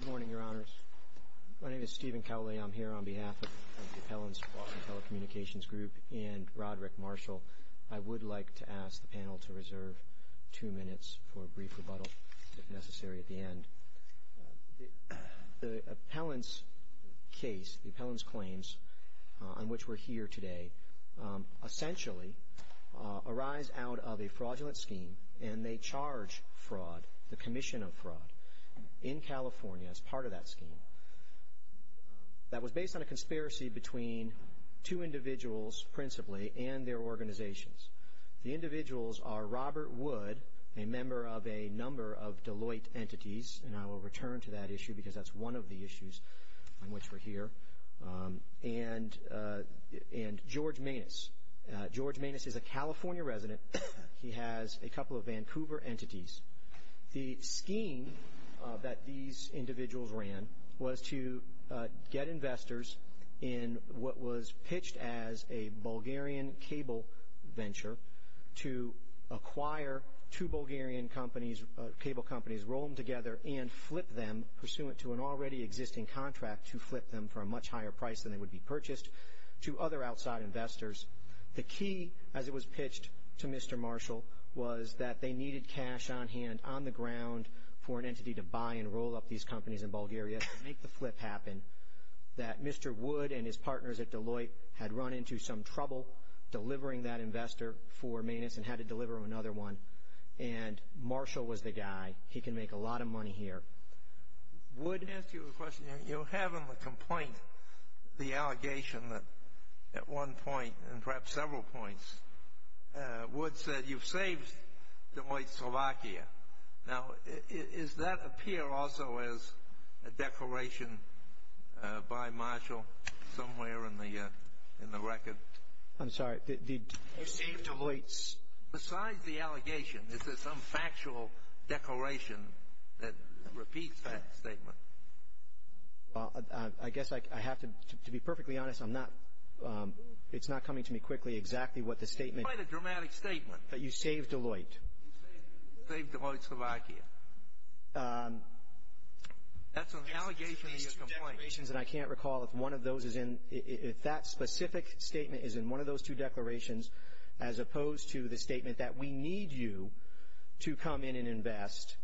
Good morning, Your Honors. My name is Stephen Cowley. I'm here on behalf of the Appellant's Fraud and Telecommunications Group and Roderick Marshall. I would like to ask the panel to reserve two minutes for a brief rebuttal, if necessary, at the end. The appellant's case, the appellant's claims, on which we're here today, essentially arise out of a fraudulent scheme, and they charge fraud, the commission of fraud, in California as part of that scheme. That was based on a conspiracy between two individuals, principally, and their organizations. The individuals are Robert Wood, a member of a number of Deloitte entities, and I will return to that issue because that's one of the issues on which we're here, and George Manis. George Manis is a California resident. He has a couple of Vancouver entities. The scheme that these individuals ran was to get investors in what was pitched as a Bulgarian cable venture to acquire two Bulgarian companies, cable companies, roll them together, and flip them, pursuant to an already existing contract to flip them for a much higher price than they would be purchased, to other outside investors. The key, as it was pitched to Mr. Marshall, was that they needed cash on hand, on the ground, for an entity to buy and roll up these companies in Bulgaria to make the flip happen, that Mr. Wood and his partners at Deloitte had run into some trouble delivering that investor for Manis and had to deliver another one, and Marshall was the guy. He can make a lot of money here. Wood asked you a question. You have in the complaint the allegation that at one point, and perhaps several points, Wood said you've saved Deloitte, Slovakia. Now, does that appear also as a declaration by Marshall somewhere in the record? I'm sorry. You saved Deloitte. Besides the allegation, is there some factual declaration that repeats that statement? I guess I have to be perfectly honest. It's not coming to me quickly exactly what the statement. It's quite a dramatic statement. That you saved Deloitte. You saved Deloitte, Slovakia. That's an allegation in your complaint. And I can't recall if one of those is in – if that specific statement is in one of those two declarations, as opposed to the statement that we need you to come in and invest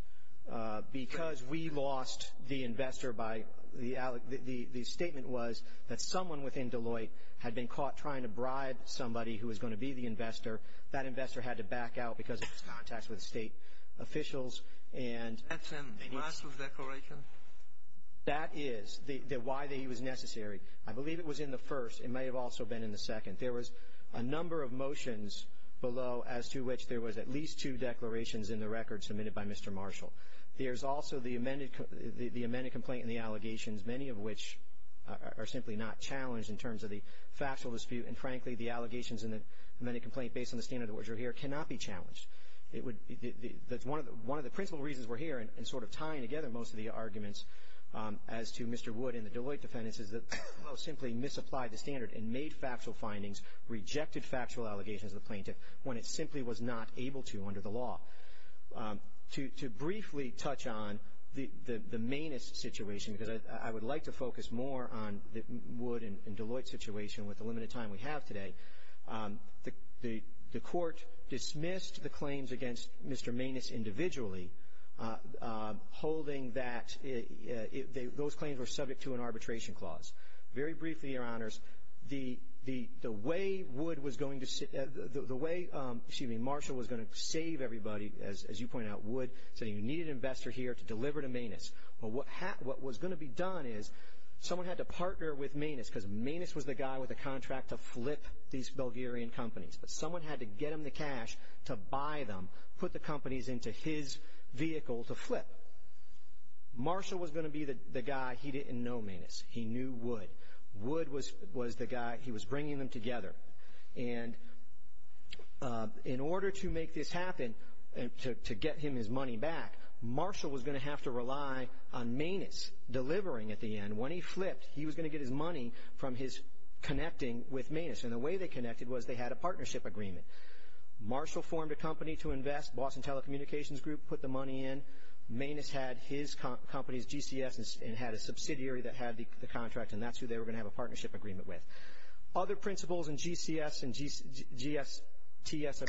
because we lost the investor by – the statement was that someone within Deloitte had been caught trying to bribe somebody who was going to be the investor. That investor had to back out because of his contacts with state officials. That's in Marshall's declaration? That is. Why he was necessary. I believe it was in the first. It may have also been in the second. There was a number of motions below as to which there was at least two declarations in the record submitted by Mr. Marshall. There's also the amended complaint and the allegations, many of which are simply not challenged in terms of the factual dispute. And, frankly, the allegations in the amended complaint based on the standard at which you're here cannot be challenged. One of the principal reasons we're here and sort of tying together most of the arguments as to Mr. Wood and the Deloitte defendants is that Deloitte simply misapplied the standard and made factual findings, rejected factual allegations of the plaintiff when it simply was not able to under the law. To briefly touch on the mainest situation, because I would like to focus more on the Wood and Deloitte situation with the limited time we have today, the court dismissed the claims against Mr. Manus individually, holding that those claims were subject to an arbitration clause. Very briefly, Your Honors, the way Wood was going to – the way, excuse me, Marshall was going to save everybody, as you point out, Wood, saying you needed an investor here to deliver to Manus. Well, what was going to be done is someone had to partner with Manus, because Manus was the guy with the contract to flip these Bulgarian companies. But someone had to get him the cash to buy them, put the companies into his vehicle to flip. Marshall was going to be the guy. He didn't know Manus. He knew Wood. Wood was the guy. He was bringing them together. And in order to make this happen, to get him his money back, Marshall was going to have to rely on Manus delivering at the end. When he flipped, he was going to get his money from his connecting with Manus. And the way they connected was they had a partnership agreement. Marshall formed a company to invest. Boston Telecommunications Group put the money in. Manus had his company's GCS and had a subsidiary that had the contract, and that's who they were going to have a partnership agreement with. Other principals in GCS and GSTS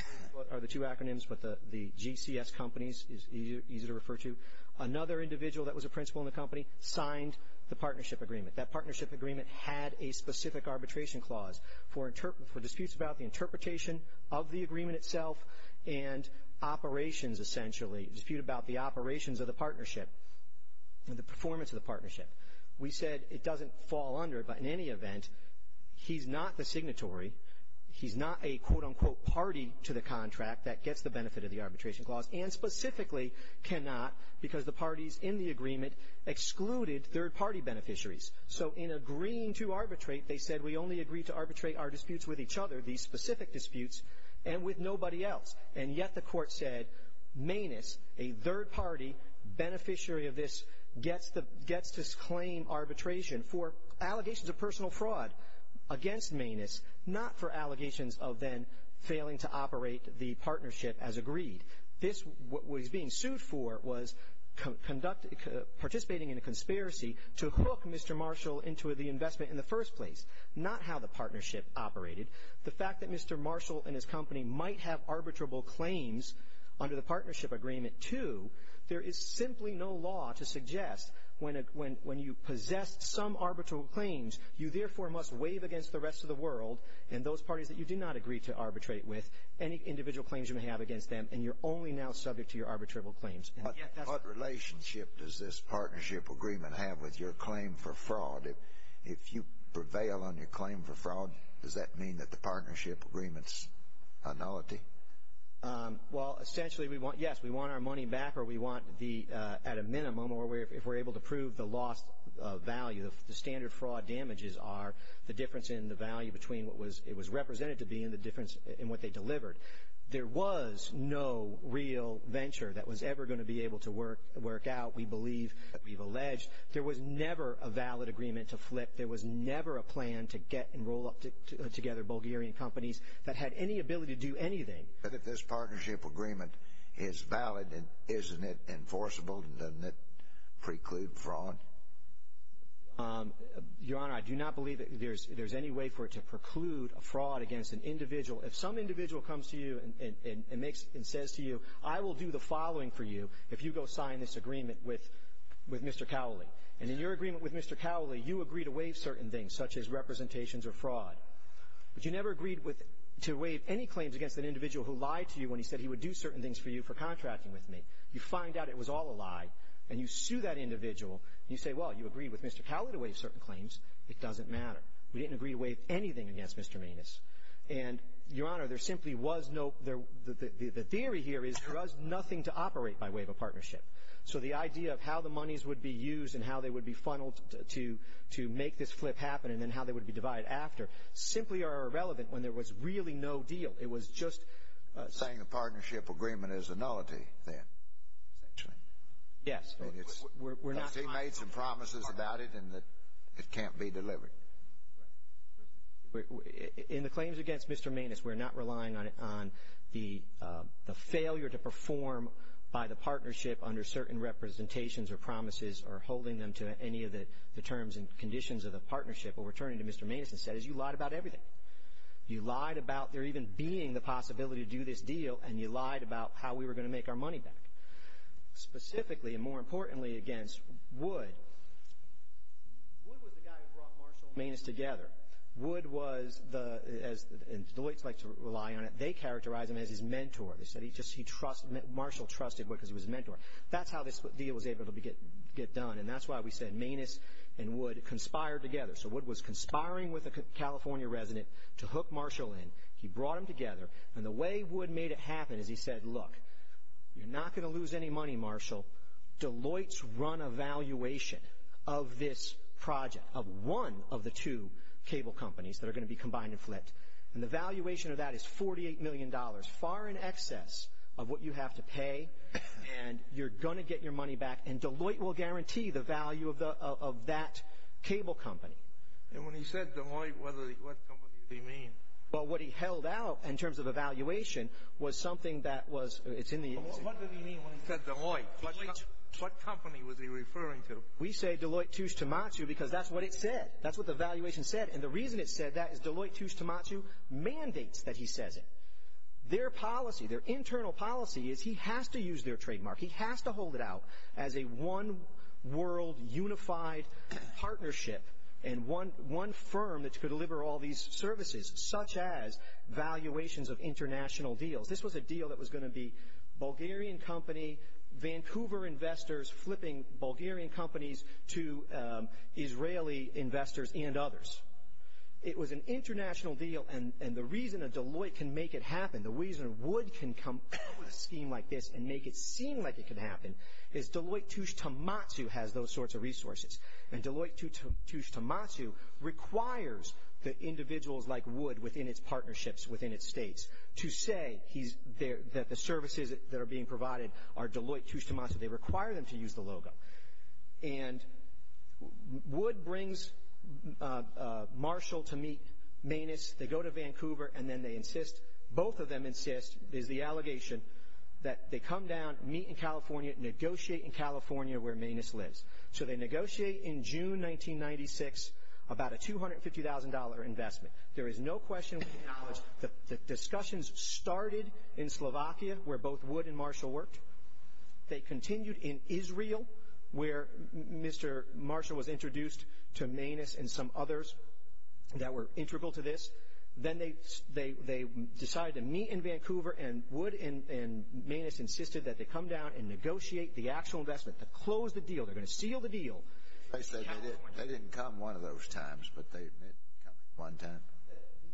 are the two acronyms, but the GCS companies is easier to refer to. Another individual that was a principal in the company signed the partnership agreement. That partnership agreement had a specific arbitration clause for disputes about the interpretation of the agreement itself and operations, essentially, a dispute about the operations of the partnership and the performance of the partnership. We said it doesn't fall under, but in any event, he's not the signatory. He's not a, quote, unquote, party to the contract that gets the benefit of the arbitration clause and specifically cannot because the parties in the agreement excluded third-party beneficiaries. So in agreeing to arbitrate, they said we only agree to arbitrate our disputes with each other, these specific disputes, and with nobody else. And yet the court said Manus, a third-party beneficiary of this, gets to claim arbitration for allegations of personal fraud against Manus, not for allegations of then failing to operate the partnership as agreed. This, what he's being sued for, was participating in a conspiracy to hook Mr. Marshall into the investment in the first place, not how the partnership operated. The fact that Mr. Marshall and his company might have arbitrable claims under the partnership agreement, too, there is simply no law to suggest when you possess some arbitral claims, you therefore must waive against the rest of the world and those parties that you do not agree to arbitrate with any individual claims you may have against them, and you're only now subject to your arbitrable claims. What relationship does this partnership agreement have with your claim for fraud? If you prevail on your claim for fraud, does that mean that the partnership agreement's a nullity? Well, essentially, we want, yes, we want our money back, or we want the, at a minimum, or if we're able to prove the loss of value, the standard fraud damages are the difference in the value between what it was represented to be and the difference in what they delivered. There was no real venture that was ever going to be able to work out. There was never a valid agreement to flip. There was never a plan to get and roll up together Bulgarian companies that had any ability to do anything. But if this partnership agreement is valid, isn't it enforceable? Doesn't it preclude fraud? Your Honor, I do not believe that there's any way for it to preclude fraud against an individual. If some individual comes to you and says to you, I will do the following for you, if you go sign this agreement with Mr. Cowley. And in your agreement with Mr. Cowley, you agree to waive certain things, such as representations or fraud. But you never agreed to waive any claims against an individual who lied to you when he said he would do certain things for you for contracting with me. You find out it was all a lie, and you sue that individual. You say, well, you agreed with Mr. Cowley to waive certain claims. It doesn't matter. We didn't agree to waive anything against Mr. Manis. And, Your Honor, there simply was no – the theory here is there was nothing to operate by way of a partnership. So the idea of how the monies would be used and how they would be funneled to make this flip happen and then how they would be divided after simply are irrelevant when there was really no deal. It was just – Saying the partnership agreement is a nullity then, essentially. Yes. We're not – Because he made some promises about it and that it can't be delivered. Right. In the claims against Mr. Manis, we're not relying on the failure to perform by the partnership under certain representations or promises or holding them to any of the terms and conditions of the partnership. What we're turning to Mr. Manis instead is you lied about everything. You lied about there even being the possibility to do this deal, and you lied about how we were going to make our money back. Specifically, and more importantly, against Wood. Wood was the guy who brought Marshall and Manis together. Wood was the – and the Lloyds like to rely on it. They characterize him as his mentor. They said he trusted – Marshall trusted Wood because he was his mentor. That's how this deal was able to get done, and that's why we said Manis and Wood conspired together. So Wood was conspiring with a California resident to hook Marshall in. He brought them together, and the way Wood made it happen is he said, Look, you're not going to lose any money, Marshall. Deloitte's run a valuation of this project, of one of the two cable companies that are going to be combined and flipped. And the valuation of that is $48 million, far in excess of what you have to pay, and you're going to get your money back, and Deloitte will guarantee the value of that cable company. And when he said Deloitte, what company did he mean? Well, what he held out in terms of a valuation was something that was – it's in the – Well, what did he mean when he said Deloitte? What company was he referring to? We say Deloitte Touche Tumatou because that's what it said. That's what the valuation said, and the reason it said that is Deloitte Touche Tumatou mandates that he says it. Their policy, their internal policy is he has to use their trademark. He has to hold it out as a one-world, unified partnership and one firm that could deliver all these services, such as valuations of international deals. This was a deal that was going to be Bulgarian company, Vancouver investors, flipping Bulgarian companies to Israeli investors and others. It was an international deal, and the reason that Deloitte can make it happen, the reason Wood can come up with a scheme like this and make it seem like it can happen, is Deloitte Touche Tumatou has those sorts of resources. And Deloitte Touche Tumatou requires the individuals like Wood within its partnerships, within its states, to say that the services that are being provided are Deloitte Touche Tumatou. They require them to use the logo. And Wood brings Marshall to meet Manus. They go to Vancouver, and then they insist, both of them insist, is the allegation that they come down, meet in California, negotiate in California where Manus lives. So they negotiate in June 1996 about a $250,000 investment. There is no question we acknowledge that discussions started in Slovakia where both Wood and Marshall worked. They continued in Israel where Mr. Marshall was introduced to Manus and some others that were integral to this. Then they decided to meet in Vancouver, and Wood and Manus insisted that they come down and negotiate the actual investment, to close the deal. They're going to seal the deal. They didn't come one of those times, but they did come one time.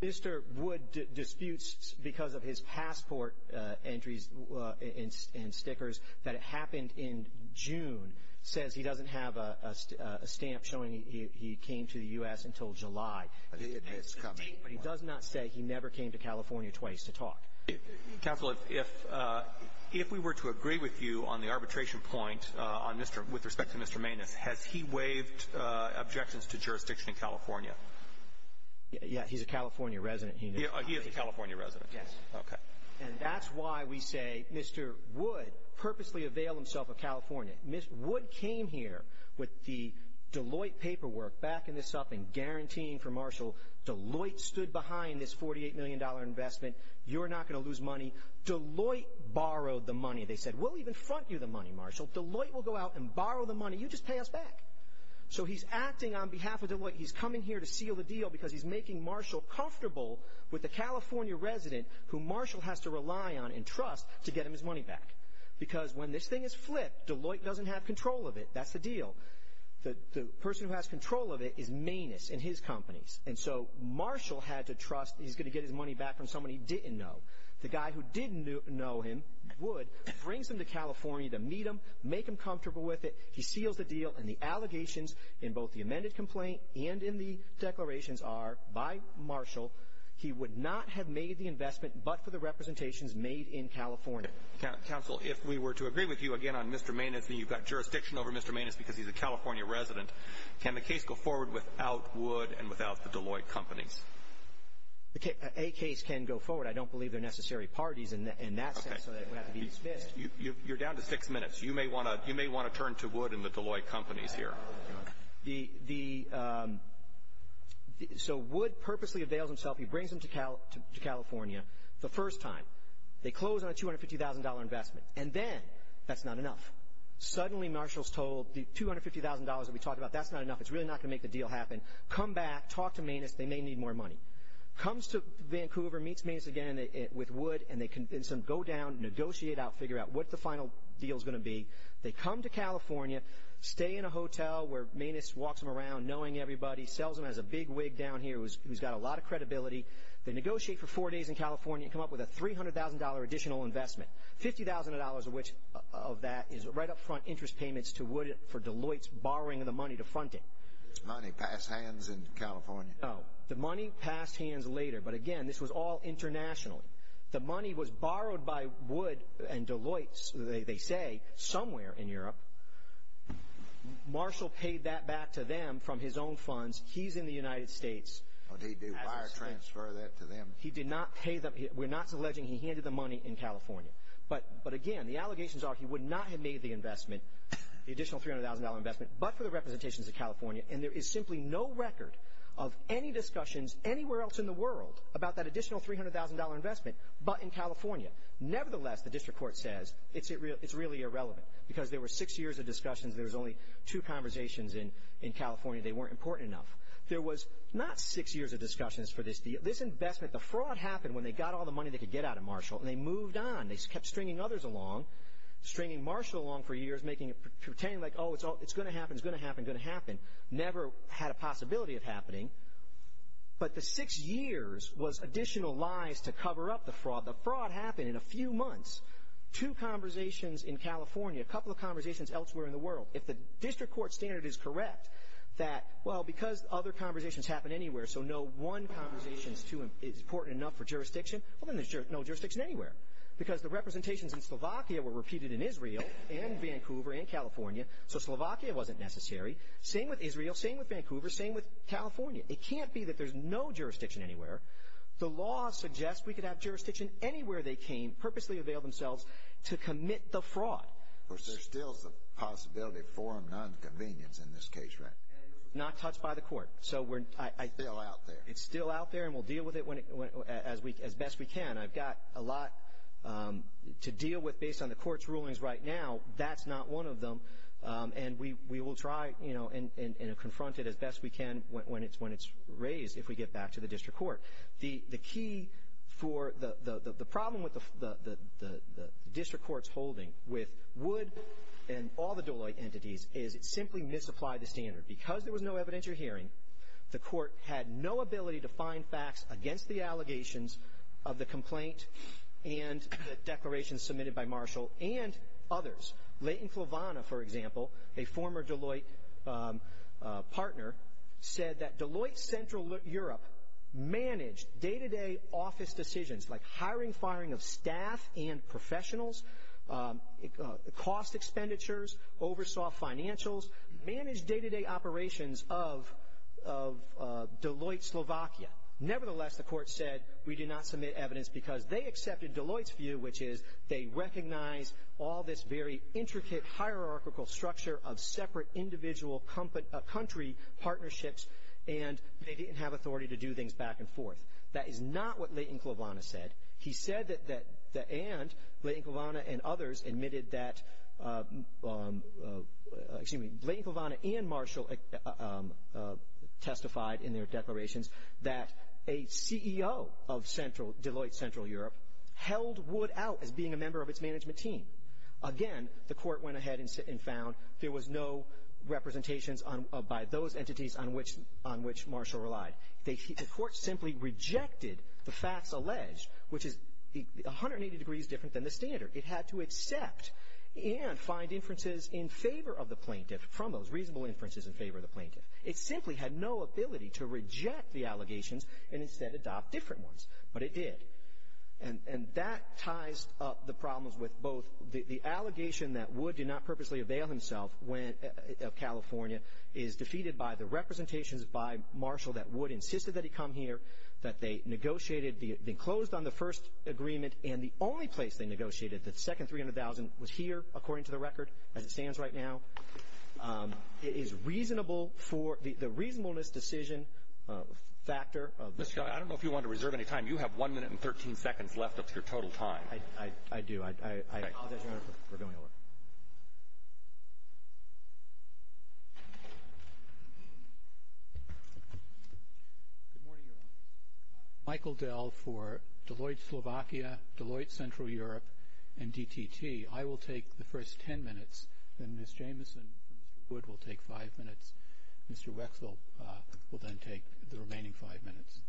Mr. Wood disputes because of his passport entries and stickers that it happened in June, says he doesn't have a stamp showing he came to the U.S. until July. It's coming. But he does not say he never came to California twice to talk. Counsel, if we were to agree with you on the arbitration point with respect to Mr. Manus, has he waived objections to jurisdiction in California? Yeah, he's a California resident. He is a California resident. Yes. Okay. And that's why we say Mr. Wood purposely availed himself of California. Mr. Wood came here with the Deloitte paperwork backing this up and guaranteeing for Marshall, Deloitte stood behind this $48 million investment. You're not going to lose money. Deloitte borrowed the money. They said, we'll even front you the money, Marshall. Deloitte will go out and borrow the money. You just pay us back. So he's acting on behalf of Deloitte. He's coming here to seal the deal because he's making Marshall comfortable with the California resident who Marshall has to rely on and trust to get him his money back. Because when this thing is flipped, Deloitte doesn't have control of it. That's the deal. The person who has control of it is Manus and his companies. And so Marshall had to trust he's going to get his money back from someone he didn't know. The guy who did know him, Wood, brings him to California to meet him, make him comfortable with it. He seals the deal, and the allegations in both the amended complaint and in the declarations are, by Marshall, he would not have made the investment but for the representations made in California. Counsel, if we were to agree with you again on Mr. Manus, and you've got jurisdiction over Mr. Manus because he's a California resident, can the case go forward without Wood and without the Deloitte companies? A case can go forward. I don't believe they're necessary parties in that sense, so that would have to be dismissed. You're down to six minutes. You may want to turn to Wood and the Deloitte companies here. So Wood purposely avails himself. He brings him to California the first time. They close on a $250,000 investment, and then that's not enough. Suddenly, Marshall's told, the $250,000 that we talked about, that's not enough. It's really not going to make the deal happen. Come back. Talk to Manus. They may need more money. Comes to Vancouver, meets Manus again with Wood, and they convince him, go down, negotiate out, figure out what the final deal's going to be. They come to California, stay in a hotel where Manus walks them around, knowing everybody, sells them, has a big wig down here, who's got a lot of credibility. They negotiate for four days in California and come up with a $300,000 additional investment, $50,000 of which of that is right up front interest payments to Wood for Deloitte's borrowing of the money to front it. Did the money pass hands in California? No. The money passed hands later, but again, this was all internationally. The money was borrowed by Wood and Deloitte, they say, somewhere in Europe. Marshall paid that back to them from his own funds. He's in the United States. But he did wire transfer that to them. He did not pay them. We're not alleging he handed the money in California. But, again, the allegations are he would not have made the investment, the additional $300,000 investment, but for the representations of California, and there is simply no record of any discussions anywhere else in the world about that additional $300,000 investment, but in California. Nevertheless, the district court says it's really irrelevant because there were six years of discussions. There was only two conversations in California. They weren't important enough. There was not six years of discussions for this deal. This investment, the fraud happened when they got all the money they could get out of Marshall, and they moved on. They kept stringing others along, stringing Marshall along for years, pretending like, oh, it's going to happen, it's going to happen, going to happen. Never had a possibility of happening. But the six years was additional lies to cover up the fraud. The fraud happened in a few months. Two conversations in California, a couple of conversations elsewhere in the world. If the district court standard is correct that, well, because other conversations happen anywhere, so no one conversation is important enough for jurisdiction, well, then there's no jurisdiction anywhere because the representations in Slovakia were repeated in Israel and Vancouver and California, so Slovakia wasn't necessary. Same with Israel. Same with Vancouver. Same with California. It can't be that there's no jurisdiction anywhere. The law suggests we could have jurisdiction anywhere they came, purposely avail themselves to commit the fraud. Of course, there still is a possibility of forum nonconvenience in this case, right? Not touched by the court. Still out there. It's still out there, and we'll deal with it as best we can. I've got a lot to deal with based on the court's rulings right now. That's not one of them. And we will try and confront it as best we can when it's raised, if we get back to the district court. The key for the problem with the district court's holding with Wood and all the Deloitte entities is it simply misapplied the standard. Because there was no evidence or hearing, the court had no ability to find facts against the allegations of the complaint and the declarations submitted by Marshall and others. Leighton Flavana, for example, a former Deloitte partner, said that Deloitte Central Europe managed day-to-day office decisions, like hiring, firing of staff and professionals, cost expenditures, oversaw financials, managed day-to-day operations of Deloitte Slovakia. Nevertheless, the court said, we do not submit evidence because they accepted Deloitte's view, which is they recognize all this very intricate hierarchical structure of separate individual country partnerships, and they didn't have authority to do things back and forth. That is not what Leighton Flavana said. He said that, and Leighton Flavana and others admitted that, excuse me, Leighton Flavana and Marshall testified in their declarations that a CEO of Deloitte Central Europe held Wood out as being a member of its management team. Again, the court went ahead and found there was no representations by those entities on which Marshall relied. The court simply rejected the facts alleged, which is 180 degrees different than the standard. It had to accept and find inferences in favor of the plaintiff, from those reasonable inferences in favor of the plaintiff. It simply had no ability to reject the allegations and instead adopt different ones, but it did. And that ties up the problems with both the allegation that Wood did not purposely avail himself of California is defeated by the representations by Marshall that Wood insisted that he come here, that they negotiated, they closed on the first agreement, and the only place they negotiated, the second $300,000 was here, according to the record, as it stands right now. It is reasonable for the reasonableness decision factor. Mr. Kelly, I don't know if you wanted to reserve any time. You have one minute and 13 seconds left of your total time. I do. I apologize, Your Honor, for going over. Good morning, Your Honor. Michael Dell for Deloitte Slovakia, Deloitte Central Europe, and DTT. I will take the first 10 minutes, then Ms. Jameson from Mr. Wood will take five minutes. Mr. Wexel will then take the remaining five minutes.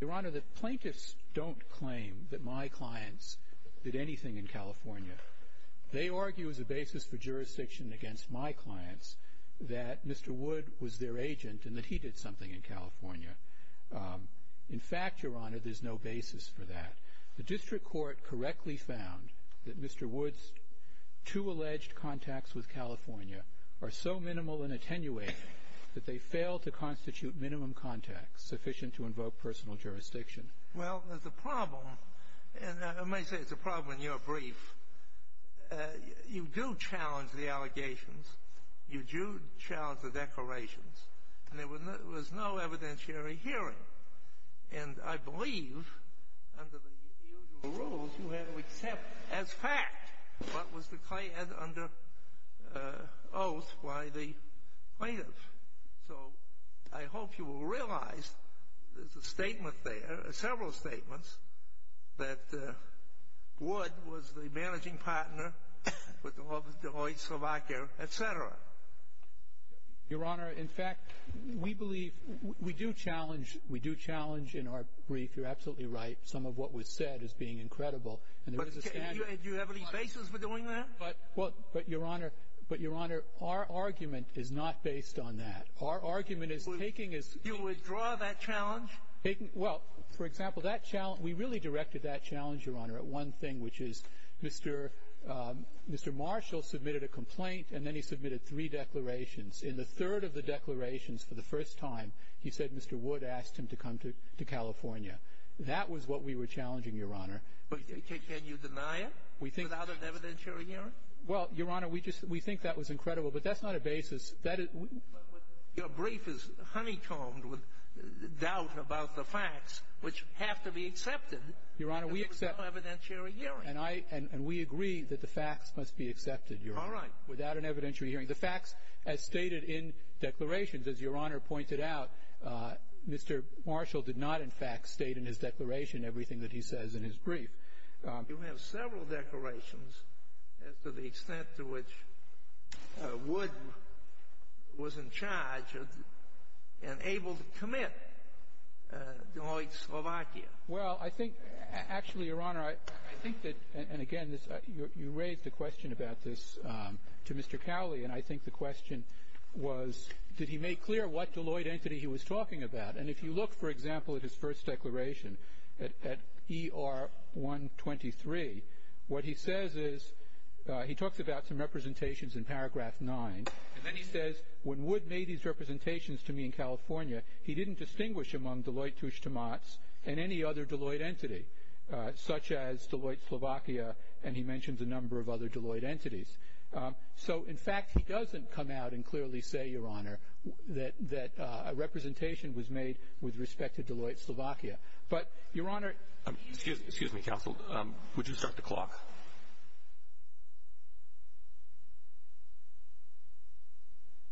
Your Honor, the plaintiffs don't claim that my clients did anything in California. They argue as a basis for jurisdiction against my clients that Mr. Wood was their agent and that he did something in California. In fact, Your Honor, there's no basis for that. The district court correctly found that Mr. Wood's two alleged contacts with California are so minimal and attenuated that they fail to constitute minimum contacts sufficient to invoke personal jurisdiction. Well, there's a problem. And I may say it's a problem in your brief. You do challenge the allegations. You do challenge the declarations. And there was no evidentiary hearing. And I believe under the usual rules you have to accept as fact what was declared under oath by the plaintiffs. So I hope you will realize there's a statement there, several statements, that Wood was the managing partner with Deloitte Slovakia, et cetera. Your Honor, in fact, we believe we do challenge in our brief, you're absolutely right, some of what was said as being incredible. But do you have any basis for doing that? But, Your Honor, our argument is not based on that. Our argument is taking as... You withdraw that challenge? Well, for example, we really directed that challenge, Your Honor, at one thing, which is Mr. Marshall submitted a complaint, and then he submitted three declarations. In the third of the declarations, for the first time, he said Mr. Wood asked him to come to California. That was what we were challenging, Your Honor. But can you deny it without an evidentiary hearing? Well, Your Honor, we think that was incredible, but that's not a basis. Your brief is honeycombed with doubt about the facts, which have to be accepted. Your Honor, we accept... Without an evidentiary hearing. And we agree that the facts must be accepted, Your Honor. All right. Without an evidentiary hearing. The facts, as stated in declarations, as Your Honor pointed out, Mr. Marshall did not, in fact, state in his declaration everything that he says in his brief. You have several declarations as to the extent to which Wood was in charge and able to commit Deloitte Slovakia. Well, I think, actually, Your Honor, I think that, and again, you raised a question about this to Mr. Cowley, and I think the question was did he make clear what Deloitte entity he was talking about? And if you look, for example, at his first declaration, at ER 123, what he says is he talks about some representations in paragraph 9, and then he says when Wood made these representations to me in California, he didn't distinguish among Deloitte touche tomates and any other Deloitte entity, such as Deloitte Slovakia, and he mentions a number of other Deloitte entities. So, in fact, he doesn't come out and clearly say, Your Honor, that a representation was made with respect to Deloitte Slovakia. But, Your Honor... Excuse me, counsel. Would you start the clock?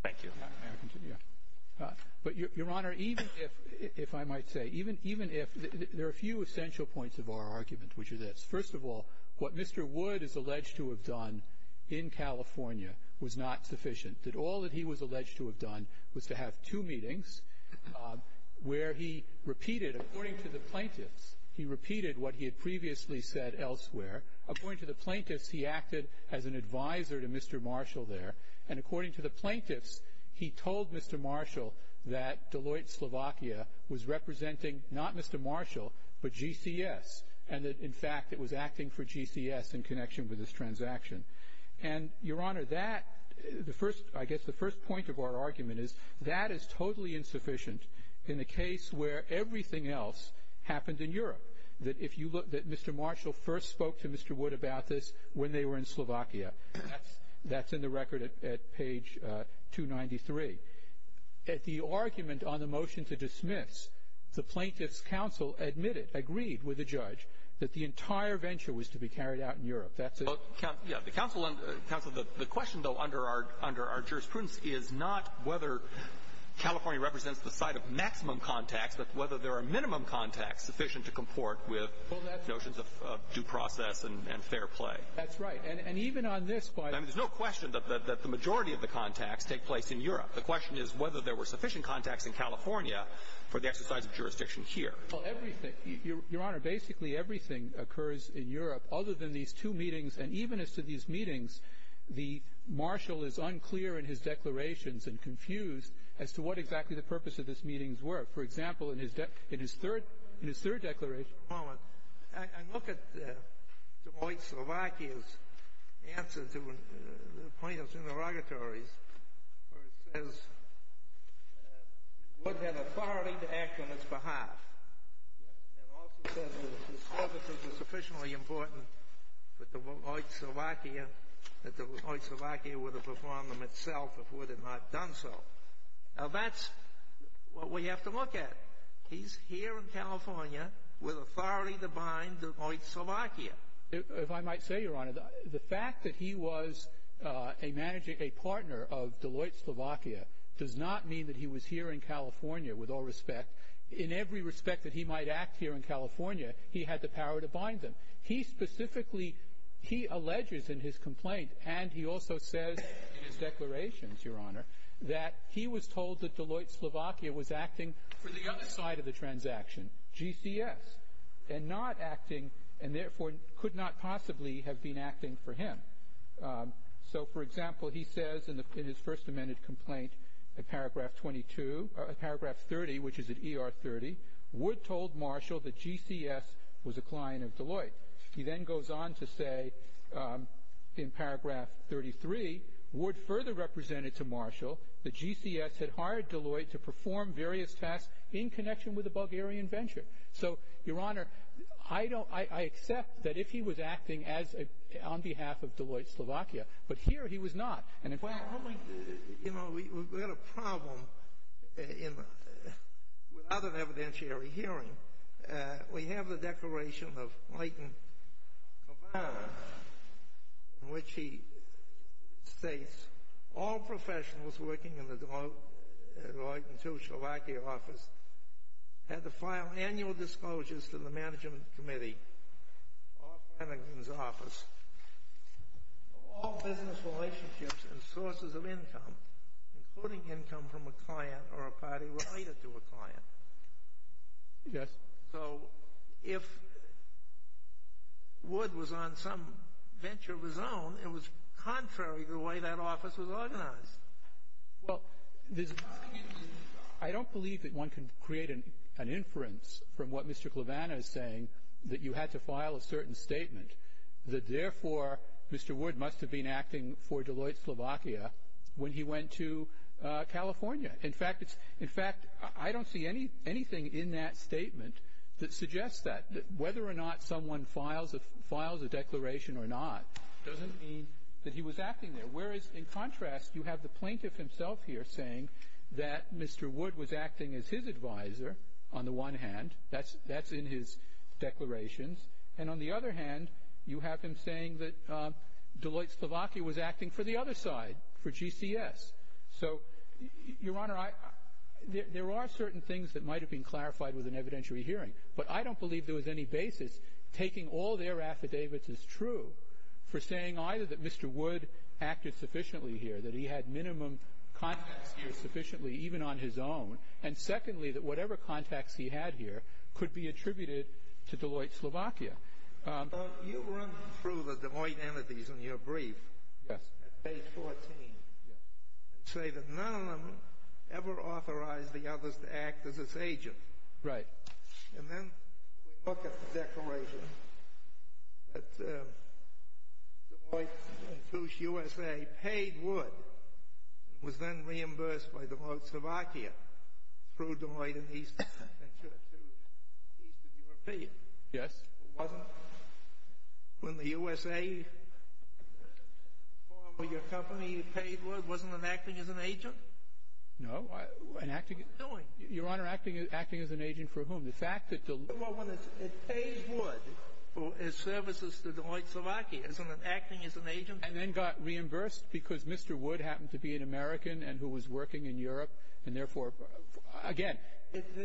Thank you. But, Your Honor, even if, if I might say, even if, there are a few essential points of our argument, which are this. First of all, what Mr. Wood is alleged to have done in California was not sufficient, that all that he was alleged to have done was to have two meetings where he repeated, according to the plaintiffs, he repeated what he had previously said elsewhere. According to the plaintiffs, he acted as an advisor to Mr. Marshall there, and according to the plaintiffs, he told Mr. Marshall that Deloitte Slovakia was representing not Mr. Marshall, but GCS, and that, in fact, it was acting for GCS in connection with this transaction. And, Your Honor, that, the first, I guess the first point of our argument is, that is totally insufficient in the case where everything else happened in Europe, that if you look, that Mr. Marshall first spoke to Mr. Wood about this when they were in Slovakia. That's, that's in the record at, at page 293. At the argument on the motion to dismiss, the plaintiffs' counsel admitted, agreed with the judge, that the entire venture was to be carried out in Europe. That's it. Well, yeah, the counsel, counsel, the question, though, under our, under our jurisprudence, is not whether California represents the site of maximum contacts, but whether there are minimum contacts sufficient to comport with notions of due process and fair play. That's right. And, and even on this point. I mean, there's no question that, that the majority of the contacts take place in Europe. The question is whether there were sufficient contacts in California for the exercise of jurisdiction here. Well, everything, Your Honor, basically everything occurs in Europe other than these two meetings. And even as to these meetings, the Marshall is unclear in his declarations and confused as to what exactly the purpose of these meetings were. For example, in his, in his third, in his third declaration. Just a moment. I, I look at Du Bois' answer to the plaintiffs' interrogatories, where it says Wood had authority to act on its behalf, and also said that if his services were sufficiently important for Du Bois, that Du Bois would have performed them himself if Wood had not done so. Now, that's what we have to look at. He's here in California with authority to bind Deloitte, Slovakia. If I might say, Your Honor, the fact that he was a managing, a partner of Deloitte, Slovakia, does not mean that he was here in California, with all respect. In every respect that he might act here in California, he had the power to bind them. He specifically, he alleges in his complaint, and he also says in his declarations, Your Honor, that he was told that Deloitte, Slovakia was acting for the other side of the transaction, GCS, and not acting, and therefore could not possibly have been acting for him. So, for example, he says in his first amended complaint, in paragraph 22, paragraph 30, which is at ER 30, Wood told Marshall that GCS was a client of Deloitte. He then goes on to say in paragraph 33, Wood further represented to Marshall that GCS had hired Deloitte to perform various tasks in connection with the Bulgarian venture. So, Your Honor, I don't, I accept that if he was acting on behalf of Deloitte, Slovakia, but here he was not. Well, you know, we've got a problem in, without an evidentiary hearing. We have the declaration of Leighton Cavanaugh, in which he states, all professionals working in the Deloitte and Slovakia office had to file annual disclosures to the management committee of Leighton Cavanaugh's office of all business relationships and sources of income, including income from a client or a party related to a client. Yes. So if Wood was on some venture of his own, it was contrary to the way that office was organized. Well, I don't believe that one can create an inference from what Mr. Wood said in that certain statement that, therefore, Mr. Wood must have been acting for Deloitte, Slovakia, when he went to California. In fact, it's, in fact, I don't see anything in that statement that suggests that. Whether or not someone files a declaration or not doesn't mean that he was acting there. Whereas, in contrast, you have the plaintiff himself here saying that Mr. Wood was acting as his advisor on the one hand. That's in his declarations. And on the other hand, you have him saying that Deloitte, Slovakia, was acting for the other side, for GCS. So, Your Honor, there are certain things that might have been clarified with an evidentiary hearing, but I don't believe there was any basis taking all their affidavits as true for saying either that Mr. Wood acted sufficiently here, that he had minimum contacts here sufficiently, even on his own, and, secondly, that whatever contacts he had here could be attributed to Deloitte, Slovakia. You run through the Deloitte entities in your brief at page 14 and say that none of them ever authorized the others to act as its agent. Right. And then we look at the declaration that Deloitte and Toosh, USA, paid Wood and was then reimbursed by Deloitte, Slovakia, through Deloitte and Eastern Venture to Eastern European. Yes. It wasn't when the USA formed your company and paid Wood, wasn't it acting as an agent? No. What was it doing? Your Honor, acting as an agent for whom? The fact that Deloitte… Well, when it pays Wood for its services to Deloitte, Slovakia, isn't it acting as an agent? And then got reimbursed because Mr. Wood happened to be an American and who was working in Europe, and, therefore, again… It was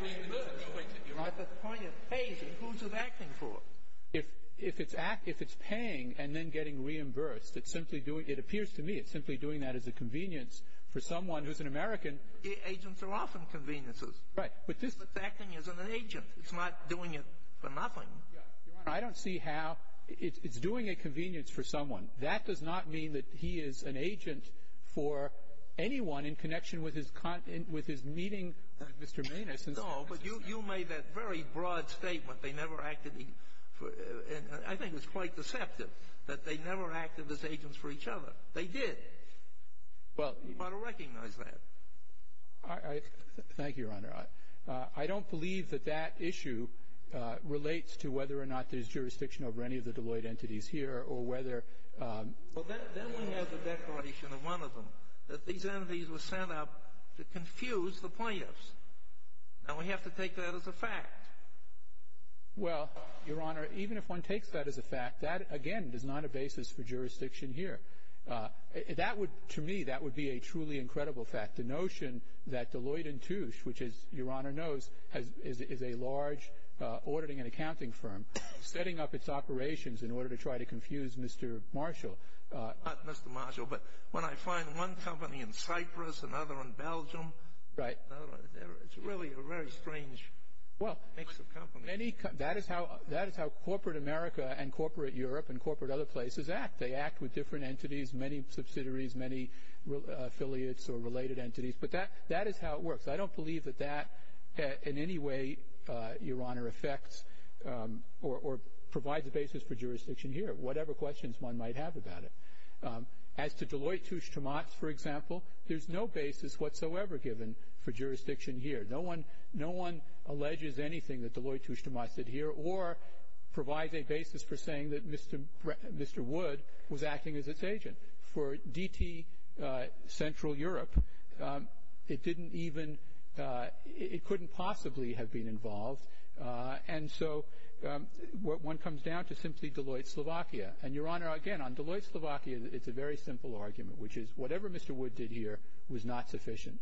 reimbursed. At the point of paying, who's it acting for? If it's paying and then getting reimbursed, it's simply doing – it appears to me it's simply doing that as a convenience for someone who's an American. Agents are often conveniences. Right. But this… But acting as an agent. It's not doing it for nothing. Your Honor, I don't see how – it's doing a convenience for someone. That does not mean that he is an agent for anyone in connection with his meeting with Mr. Maness. No, but you made that very broad statement. They never acted – I think it's quite deceptive that they never acted as agents for each other. They did. Well… You ought to recognize that. Thank you, Your Honor. I don't believe that that issue relates to whether or not there's jurisdiction over any of the Deloitte entities here or whether… Well, then we have the declaration in one of them that these entities were set up to confuse the plaintiffs. Now, we have to take that as a fact. Well, Your Honor, even if one takes that as a fact, that, again, is not a basis for jurisdiction here. That would – to me, that would be a truly incredible fact, the notion that Deloitte & Touche, which, as Your Honor knows, is a large auditing and accounting firm, setting up its operations in order to try to confuse Mr. Marshall. Not Mr. Marshall, but when I find one company in Cyprus, another in Belgium… Right. It's really a very strange mix of companies. That is how corporate America and corporate Europe and corporate other places act. They act with different entities, many subsidiaries, many affiliates or related entities. But that is how it works. I don't believe that that in any way, Your Honor, affects or provides a basis for jurisdiction here, whatever questions one might have about it. As to Deloitte & Touche, for example, there's no basis whatsoever given for jurisdiction here. No one alleges anything that Deloitte & Touche did here or provides a basis for saying that Mr. Wood was acting as its agent. For DT Central Europe, it didn't even – it couldn't possibly have been involved. And so one comes down to simply Deloitte & Slovakia. And, Your Honor, again, on Deloitte & Slovakia, it's a very simple argument, which is whatever Mr. Wood did here was not sufficient.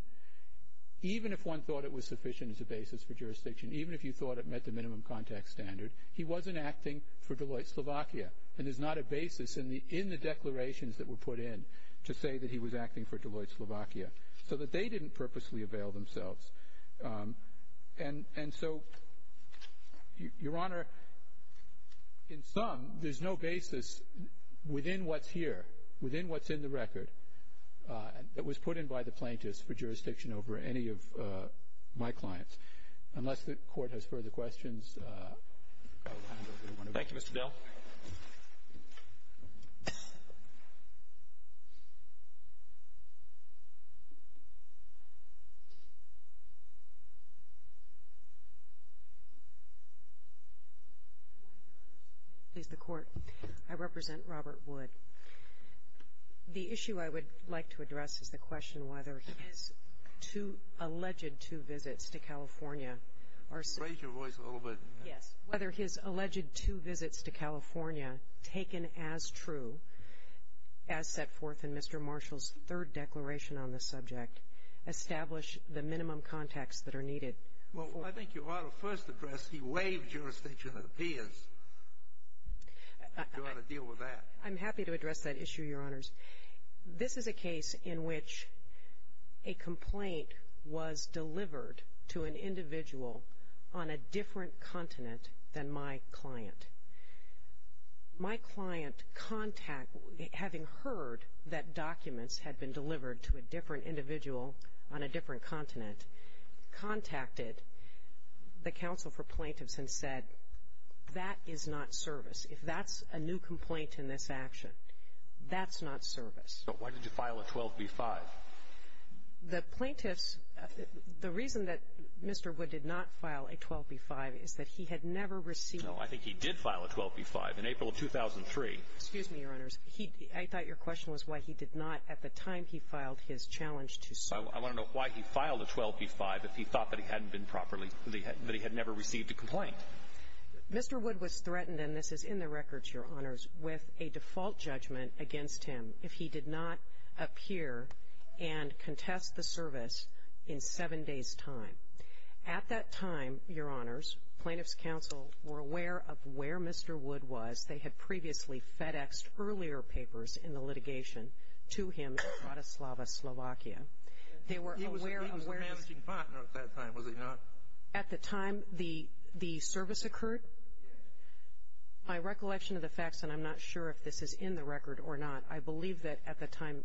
Even if one thought it was sufficient as a basis for jurisdiction, even if you thought it met the minimum contact standard, he wasn't acting for Deloitte & Slovakia. And there's not a basis in the declarations that were put in to say that he was acting for Deloitte & Slovakia, so that they didn't purposely avail themselves. And so, Your Honor, in sum, there's no basis within what's here, within what's in the record, that was put in by the plaintiffs for jurisdiction over any of my clients. Unless the Court has further questions, I'll hand over to one of you. Thank you, Mr. Dell. Good morning, Your Honors. One of the things I would like to address is the question whether his alleged two visits to California. Raise your voice a little bit. Yes. Whether his alleged two visits to California, taken as true, as set forth in Mr. Marshall's third declaration on this subject, establish the minimum contacts that are needed. Well, I think, Your Honor, first address, he waived jurisdiction of the peers. I think you ought to deal with that. I'm happy to address that issue, Your Honors. This is a case in which a complaint was delivered to an individual on a different continent than my client. My client, having heard that documents had been delivered to a different individual on a different continent, contacted the counsel for plaintiffs and said, that is not service. If that's a new complaint in this action, that's not service. But why did you file a 12b-5? The plaintiffs, the reason that Mr. Wood did not file a 12b-5 is that he had never received. No, I think he did file a 12b-5 in April of 2003. Excuse me, Your Honors. I thought your question was why he did not at the time he filed his challenge to serve. I want to know why he filed a 12b-5 if he thought that he hadn't been properly, that he had never received a complaint. Mr. Wood was threatened, and this is in the records, Your Honors, with a default judgment against him if he did not appear and contest the service in seven days' time. At that time, Your Honors, plaintiffs' counsel were aware of where Mr. Wood was. They had previously FedExed earlier papers in the litigation to him in Bratislava, Slovakia. He was a managing partner at that time, was he not? At the time the service occurred? Yes. My recollection of the facts, and I'm not sure if this is in the record or not, I believe that at the time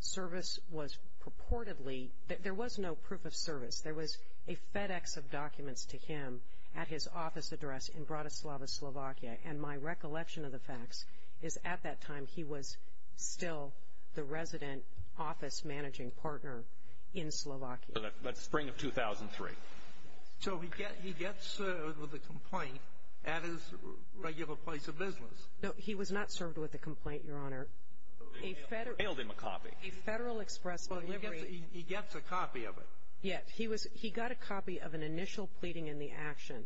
service was purportedly, there was no proof of service. There was a FedEx of documents to him at his office address in Bratislava, Slovakia, and my recollection of the facts is at that time he was still the resident office managing partner in Slovakia. That's spring of 2003. So he gets served with a complaint at his regular place of business. No, he was not served with a complaint, Your Honor. A federal express delivery. He gets a copy of it. Yes, he got a copy of an initial pleading in the action.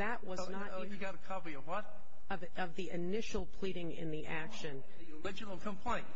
Oh, he got a copy of what? Of the initial pleading in the action. The original complaint.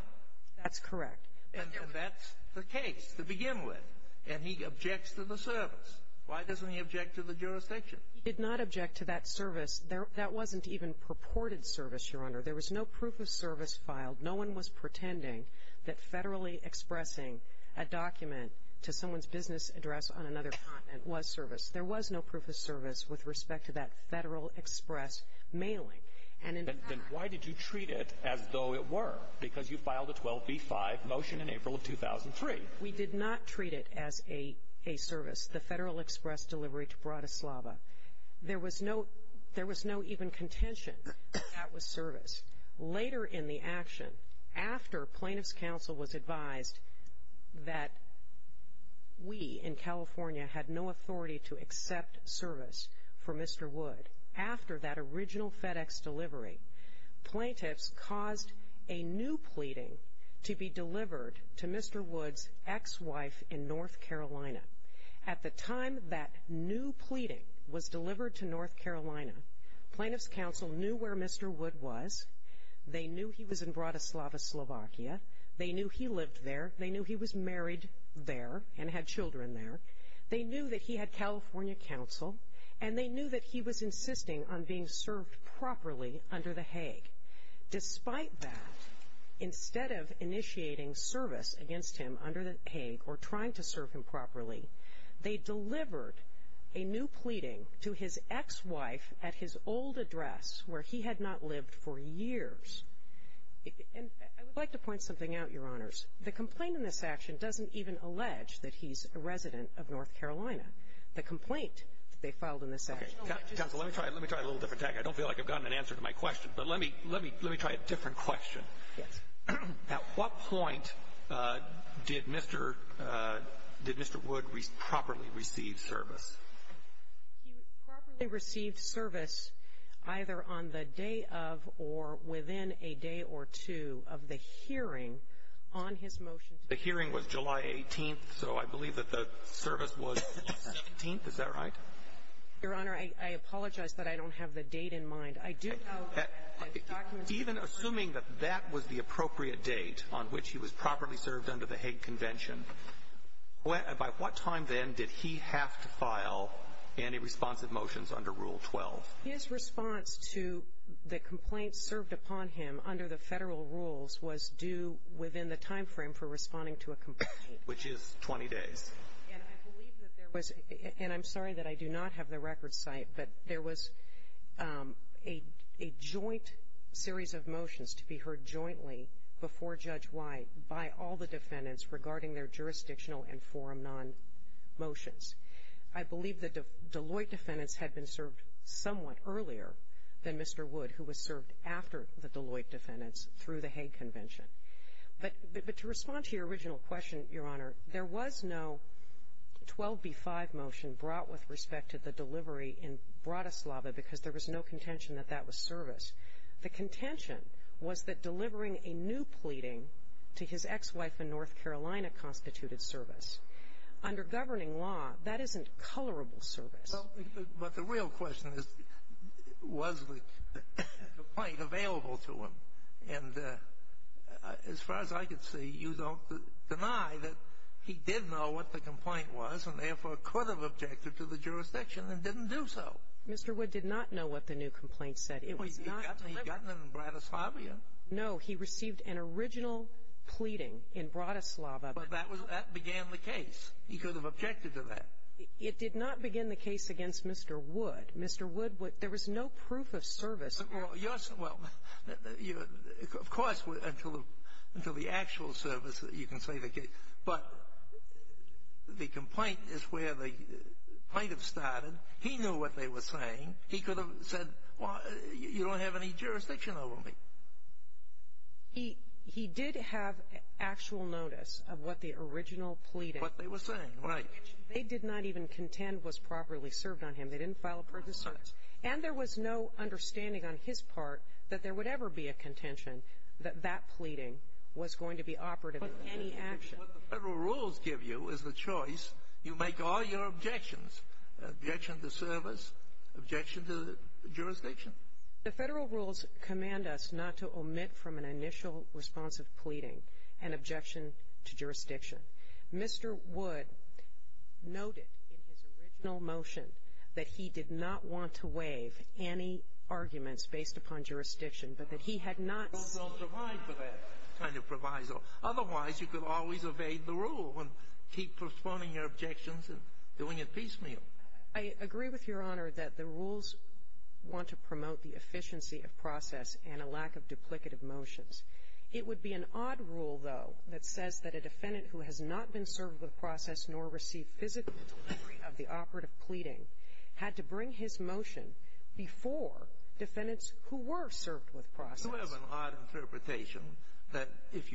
That's correct. And that's the case to begin with. And he objects to the service. Why doesn't he object to the jurisdiction? He did not object to that service. That wasn't even purported service, Your Honor. There was no proof of service filed. No one was pretending that federally expressing a document to someone's business address on another continent was service. There was no proof of service with respect to that federal express mailing. Then why did you treat it as though it were? Because you filed a 12b-5 motion in April of 2003. We did not treat it as a service, the federal express delivery to Bratislava. There was no even contention that that was service. Later in the action, after plaintiff's counsel was advised that we in California had no authority to accept service for Mr. Wood, after that original FedEx delivery, plaintiffs caused a new pleading to be delivered to Mr. Wood's ex-wife in North Carolina. At the time that new pleading was delivered to North Carolina, plaintiff's counsel knew where Mr. Wood was. They knew he was in Bratislava, Slovakia. They knew he lived there. They knew he was married there and had children there. They knew that he had California counsel. And they knew that he was insisting on being served properly under the Hague. Despite that, instead of initiating service against him under the Hague or trying to serve him properly, they delivered a new pleading to his ex-wife at his old address where he had not lived for years. And I would like to point something out, Your Honors. The complaint in this action doesn't even allege that he's a resident of North Carolina. The complaint that they filed in this action. Okay. Counsel, let me try a little different tactic. I don't feel like I've gotten an answer to my question. But let me try a different question. Yes. At what point did Mr. Wood properly receive service? He properly received service either on the day of or within a day or two of the hearing on his motion. The hearing was July 18th, so I believe that the service was the 16th. Is that right? Your Honor, I apologize that I don't have the date in mind. I do have a document. Even assuming that that was the appropriate date on which he was properly served under the Hague Convention, by what time then did he have to file any responsive motions under Rule 12? His response to the complaints served upon him under the federal rules was due within the timeframe for responding to a complaint. Which is 20 days. And I believe that there was, and I'm sorry that I do not have the record site, but there was a joint series of motions to be heard jointly before Judge White by all the defendants regarding their jurisdictional and forum non-motions. I believe the Deloitte defendants had been served somewhat earlier than Mr. Wood, who was served after the Deloitte defendants through the Hague Convention. But to respond to your original question, Your Honor, there was no 12b-5 motion brought with respect to the delivery in Bratislava because there was no contention that that was service. The contention was that delivering a new pleading to his ex-wife in North Carolina constituted service. Under governing law, that isn't colorable service. But the real question is, was the complaint available to him? And as far as I could see, you don't deny that he did know what the complaint was and therefore could have objected to the jurisdiction and didn't do so. Mr. Wood did not know what the new complaint said. It was not delivered. He got it in Bratislava yet? He received an original pleading in Bratislava. But that began the case. He could have objected to that. It did not begin the case against Mr. Wood. Mr. Wood, there was no proof of service. Well, of course, until the actual service, you can say the case. But the complaint is where the plaintiff started. He knew what they were saying. He could have said, well, you don't have any jurisdiction over me. He did have actual notice of what the original pleading was. What they were saying, right. They did not even contend was properly served on him. They didn't file a purchase service. And there was no understanding on his part that there would ever be a contention that that pleading was going to be operative in any action. What the federal rules give you is the choice. You make all your objections, objection to service, objection to jurisdiction. The federal rules command us not to omit from an initial response of pleading an objection to jurisdiction. Mr. Wood noted in his original motion that he did not want to waive any arguments based upon jurisdiction, but that he had not seen. Those don't provide for that kind of proviso. Otherwise, you could always evade the rule and keep postponing your objections and doing it piecemeal. I agree with Your Honor that the rules want to promote the efficiency of process and a lack of duplicative motions. It would be an odd rule, though, that says that a defendant who has not been served with process nor received physical delivery of the operative pleading had to bring his motion before defendants who were served with process. You have an odd interpretation that if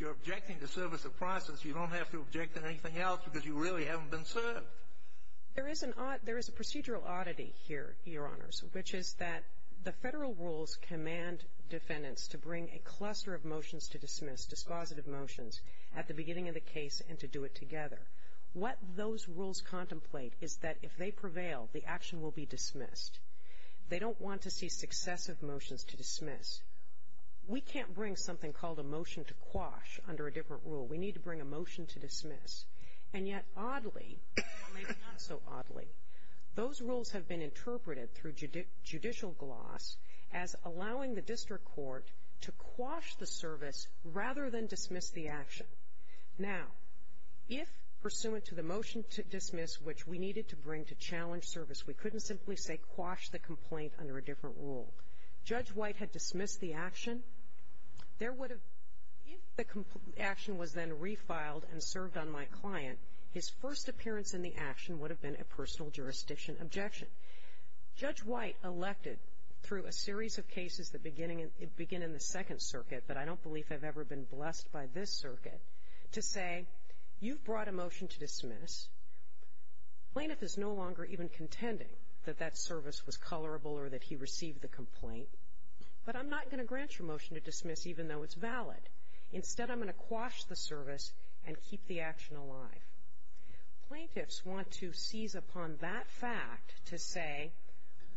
you're objecting to service of process, you don't have to object to anything else because you really haven't been served. There is a procedural oddity here, Your Honors, which is that the federal rules command defendants to bring a cluster of motions to dismiss, dispositive motions, at the beginning of the case and to do it together. What those rules contemplate is that if they prevail, the action will be dismissed. They don't want to see successive motions to dismiss. We can't bring something called a motion to quash under a different rule. We need to bring a motion to dismiss. And yet, oddly, or maybe not so oddly, those rules have been interpreted through judicial gloss as allowing the district court to quash the service rather than dismiss the action. Now, if pursuant to the motion to dismiss, which we needed to bring to challenge service, we couldn't simply say quash the complaint under a different rule. Judge White had dismissed the action. If the action was then refiled and served on my client, his first appearance in the action would have been a personal jurisdiction objection. Judge White elected through a series of cases that begin in the Second Circuit, but I don't believe I've ever been blessed by this circuit, to say, you've brought a motion to dismiss. Plaintiff is no longer even contending that that service was colorable or that he received the complaint, but I'm not going to grant your motion to dismiss even though it's valid. Instead, I'm going to quash the service and keep the action alive. Plaintiffs want to seize upon that fact to say,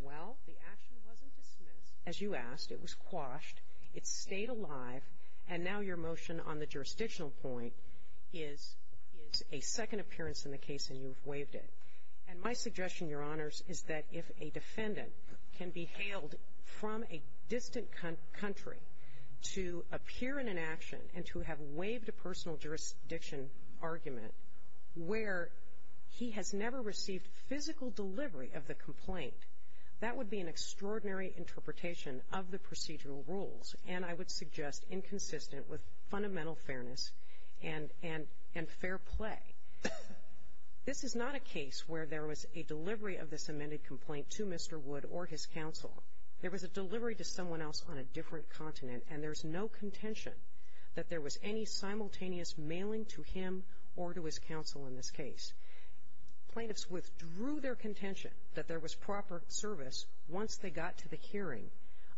well, the action wasn't dismissed, as you asked. It was quashed. It stayed alive. And now your motion on the jurisdictional point is a second appearance in the case, and you've waived it. And my suggestion, Your Honors, is that if a defendant can be hailed from a distant country to appear in an action and to have waived a personal jurisdiction argument where he has never received physical delivery of the complaint, that would be an extraordinary interpretation of the procedural rules and, I would amended complaint to Mr. Wood or his counsel. There was a delivery to someone else on a different continent, and there's no contention that there was any simultaneous mailing to him or to his counsel in this case. Plaintiffs withdrew their contention that there was proper service once they got to the hearing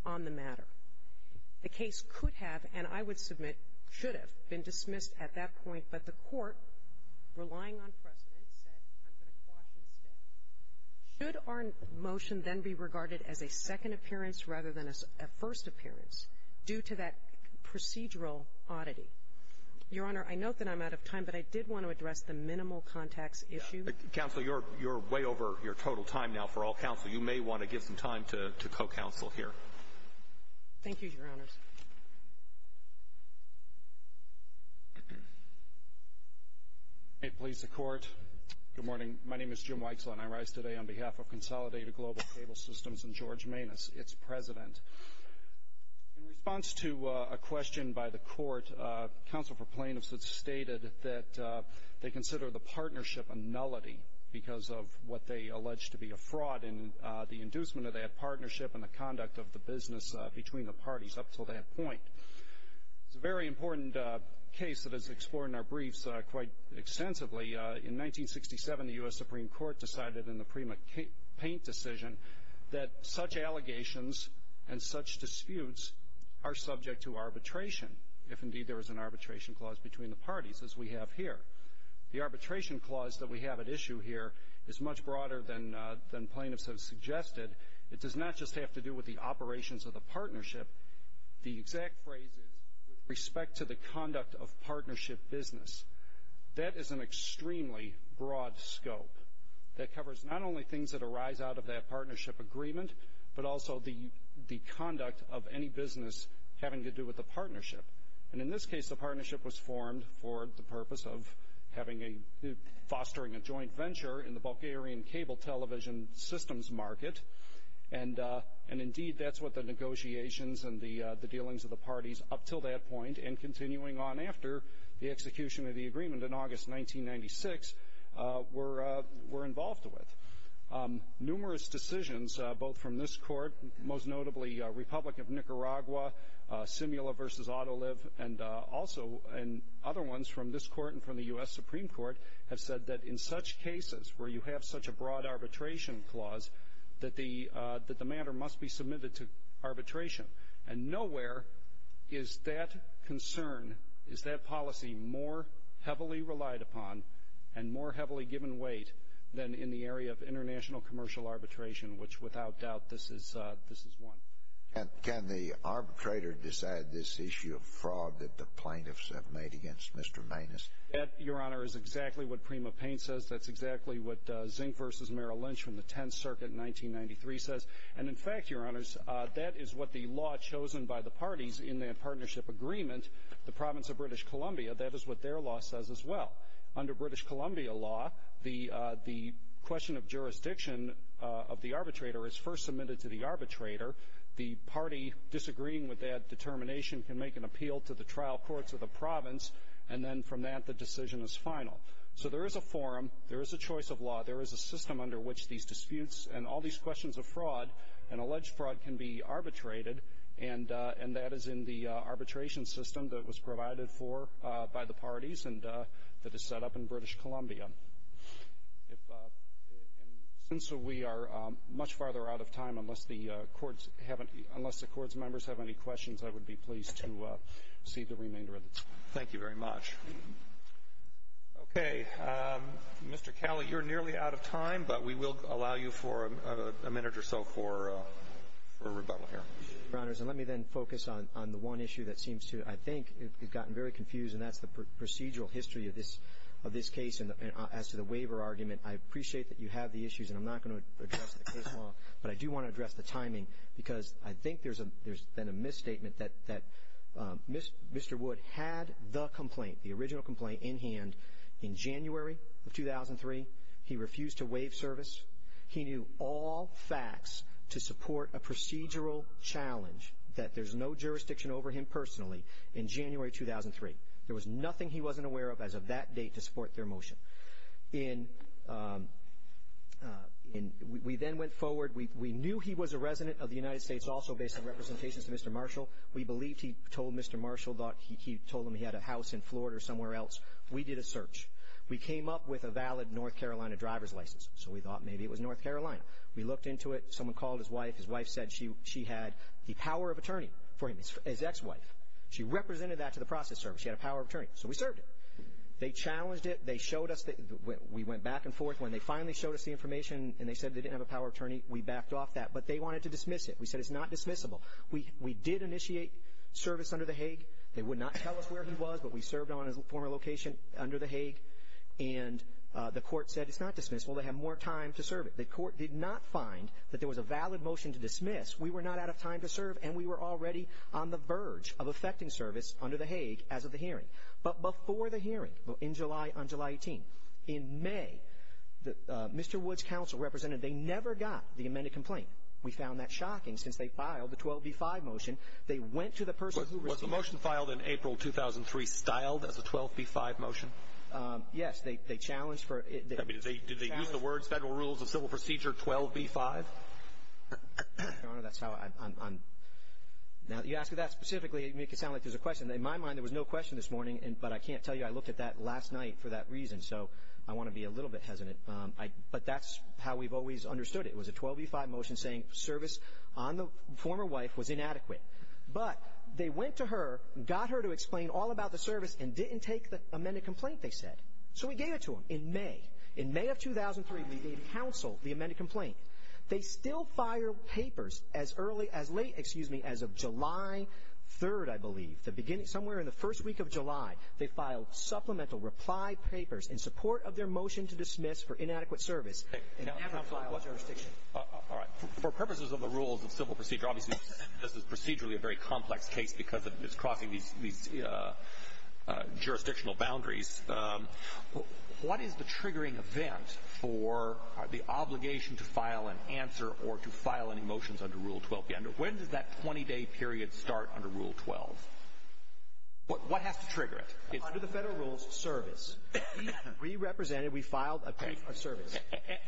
on the matter. The case could have, and I would submit should have, been dismissed at that point, but the court, relying on precedent, said I'm going to quash instead. Should our motion then be regarded as a second appearance rather than a first appearance due to that procedural oddity? Your Honor, I note that I'm out of time, but I did want to address the minimal contacts issue. Counsel, you're way over your total time now for all counsel. You may want to give some time to co-counsel here. Thank you, Your Honors. May it please the Court. Good morning. My name is Jim Weixler, and I rise today on behalf of Consolidated Global Cable Systems and George Manis, its president. In response to a question by the court, counsel for plaintiffs had stated that they consider the partnership a nullity because of what they allege to be a fraud in the inducement of that partnership and the conduct of the business between the parties up to that point. It's a very important case that is explored in our briefs quite extensively. In 1967, the U.S. Supreme Court decided in the prima paint decision that such allegations and such disputes are subject to arbitration, if indeed there is an arbitration clause between the parties, as we have here. The arbitration clause that we have at issue here is much broader than plaintiffs have suggested. It does not just have to do with the operations of the partnership. The exact phrase is with respect to the conduct of partnership business. That is an extremely broad scope that covers not only things that arise out of that partnership agreement, but also the conduct of any business having to do with the partnership. In this case, the partnership was formed for the purpose of fostering a joint venture in the Bulgarian cable television systems market. Indeed, that's what the negotiations and the dealings of the parties up until that point and continuing on after the execution of the agreement in August 1996 were involved with. Numerous decisions, both from this court, most notably Republic of Nicaragua, Simula v. Autoliv, and also other ones from this court and from the U.S. Supreme Court, have said that in such cases where you have such a broad arbitration clause, that the matter must be submitted to arbitration. And nowhere is that concern, is that policy more heavily relied upon and more heavily given weight than in the area of international commercial arbitration, which without doubt this is one. And can the arbitrator decide this issue of fraud that the plaintiffs have made against Mr. Maines? That, Your Honor, is exactly what Prima Paine says. That's exactly what Zink v. Merrill Lynch from the Tenth Circuit in 1993 says. And, in fact, Your Honors, that is what the law chosen by the parties in that partnership agreement, the Province of British Columbia, that is what their law says as well. Under British Columbia law, the question of jurisdiction of the arbitrator is first submitted to the arbitrator, the party disagreeing with that determination can make an appeal to the trial courts of the province, and then from that the decision is final. So there is a forum, there is a choice of law, there is a system under which these disputes and all these questions of fraud and alleged fraud can be arbitrated, and that is in the arbitration system that was provided for by the parties and that is set up in British Columbia. And since we are much farther out of time, unless the courts members have any questions, I would be pleased to see the remainder of this. Thank you very much. Okay. Mr. Calley, you're nearly out of time, but we will allow you for a minute or so for rebuttal here. Your Honors, let me then focus on the one issue that seems to, I think, have gotten very confused, and that's the procedural history of this case as to the waiver argument. I appreciate that you have the issues, and I'm not going to address the case law, but I do want to address the timing because I think there's been a misstatement that Mr. Wood had the complaint, the original complaint, in hand in January of 2003. He refused to waive service. He knew all facts to support a procedural challenge that there's no jurisdiction over him personally in January 2003. There was nothing he wasn't aware of as of that date to support their motion. We then went forward. We knew he was a resident of the United States, also based on representations to Mr. Marshall. We believed he told Mr. Marshall that he told him he had a house in Florida or somewhere else. We did a search. We came up with a valid North Carolina driver's license, so we thought maybe it was North Carolina. We looked into it. Someone called his wife. His wife said she had the power of attorney for him, his ex-wife. She represented that to the process service. She had a power of attorney, so we served it. They challenged it. They showed us. We went back and forth. When they finally showed us the information and they said they didn't have a power of attorney, we backed off that. But they wanted to dismiss it. We said it's not dismissible. We did initiate service under the Hague. They would not tell us where he was, but we served on his former location under the Hague. And the court said it's not dismissible. They have more time to serve it. The court did not find that there was a valid motion to dismiss. We were not out of time to serve, and we were already on the verge of effecting service under the Hague as of the hearing. But before the hearing, in July, on July 18, in May, Mr. Woods' counsel represented. They never got the amended complaint. We found that shocking. Since they filed the 12b-5 motion, they went to the person who received it. Was the motion filed in April 2003 styled as a 12b-5 motion? Yes. They challenged for it. I mean, did they use the words Federal Rules of Civil Procedure 12b-5? Your Honor, that's how I'm – now that you ask me that specifically, you make it sound like there's a question. In my mind, there was no question this morning, but I can't tell you I looked at that last night for that reason. So I want to be a little bit hesitant. But that's how we've always understood it. It was a 12b-5 motion saying service on the former wife was inadequate. But they went to her, got her to explain all about the service, and didn't take the amended complaint, they said. So we gave it to them in May. In May of 2003, we gave counsel the amended complaint. They still filed papers as early – as late, excuse me, as of July 3rd, I believe, the beginning – somewhere in the first week of July. They filed supplemental reply papers in support of their motion to dismiss for inadequate service. They never filed jurisdiction. All right. For purposes of the rules of civil procedure, obviously this is procedurally a very complex case because it's crossing these jurisdictional boundaries. What is the triggering event for the obligation to file an answer or to file any motions under Rule 12b? When does that 20-day period start under Rule 12? What has to trigger it? Under the federal rules, service. We represented, we filed a piece of service.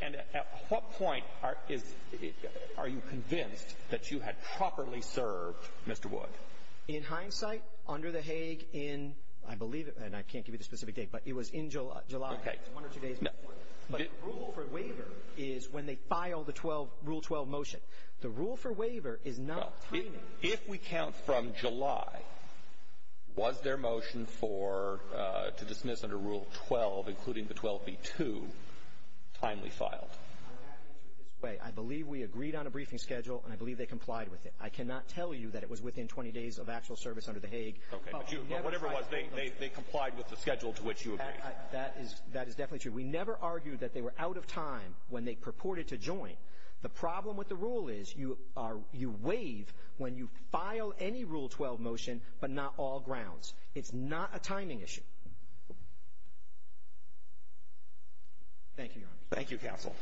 And at what point is – are you convinced that you had properly served Mr. Wood? In hindsight, under the Hague, in – I believe – and I can't give you the specific date, but it was in July. Okay. One or two days before. But the rule for waiver is when they file the Rule 12 motion. The rule for waiver is not timing. If we count from July, was their motion for – to dismiss under Rule 12, including the 12b-2, timely filed? I would have to answer it this way. I believe we agreed on a briefing schedule, and I believe they complied with it. I cannot tell you that it was within 20 days of actual service under the Hague. Okay. But you – but whatever it was, they complied with the schedule to which you agreed. That is – that is definitely true. We never argued that they were out of time when they purported to join. The problem with the rule is you are – you waive when you file any Rule 12 motion, but not all grounds. It's not a timing issue. Thank you, Your Honor. Thank you, Counsel.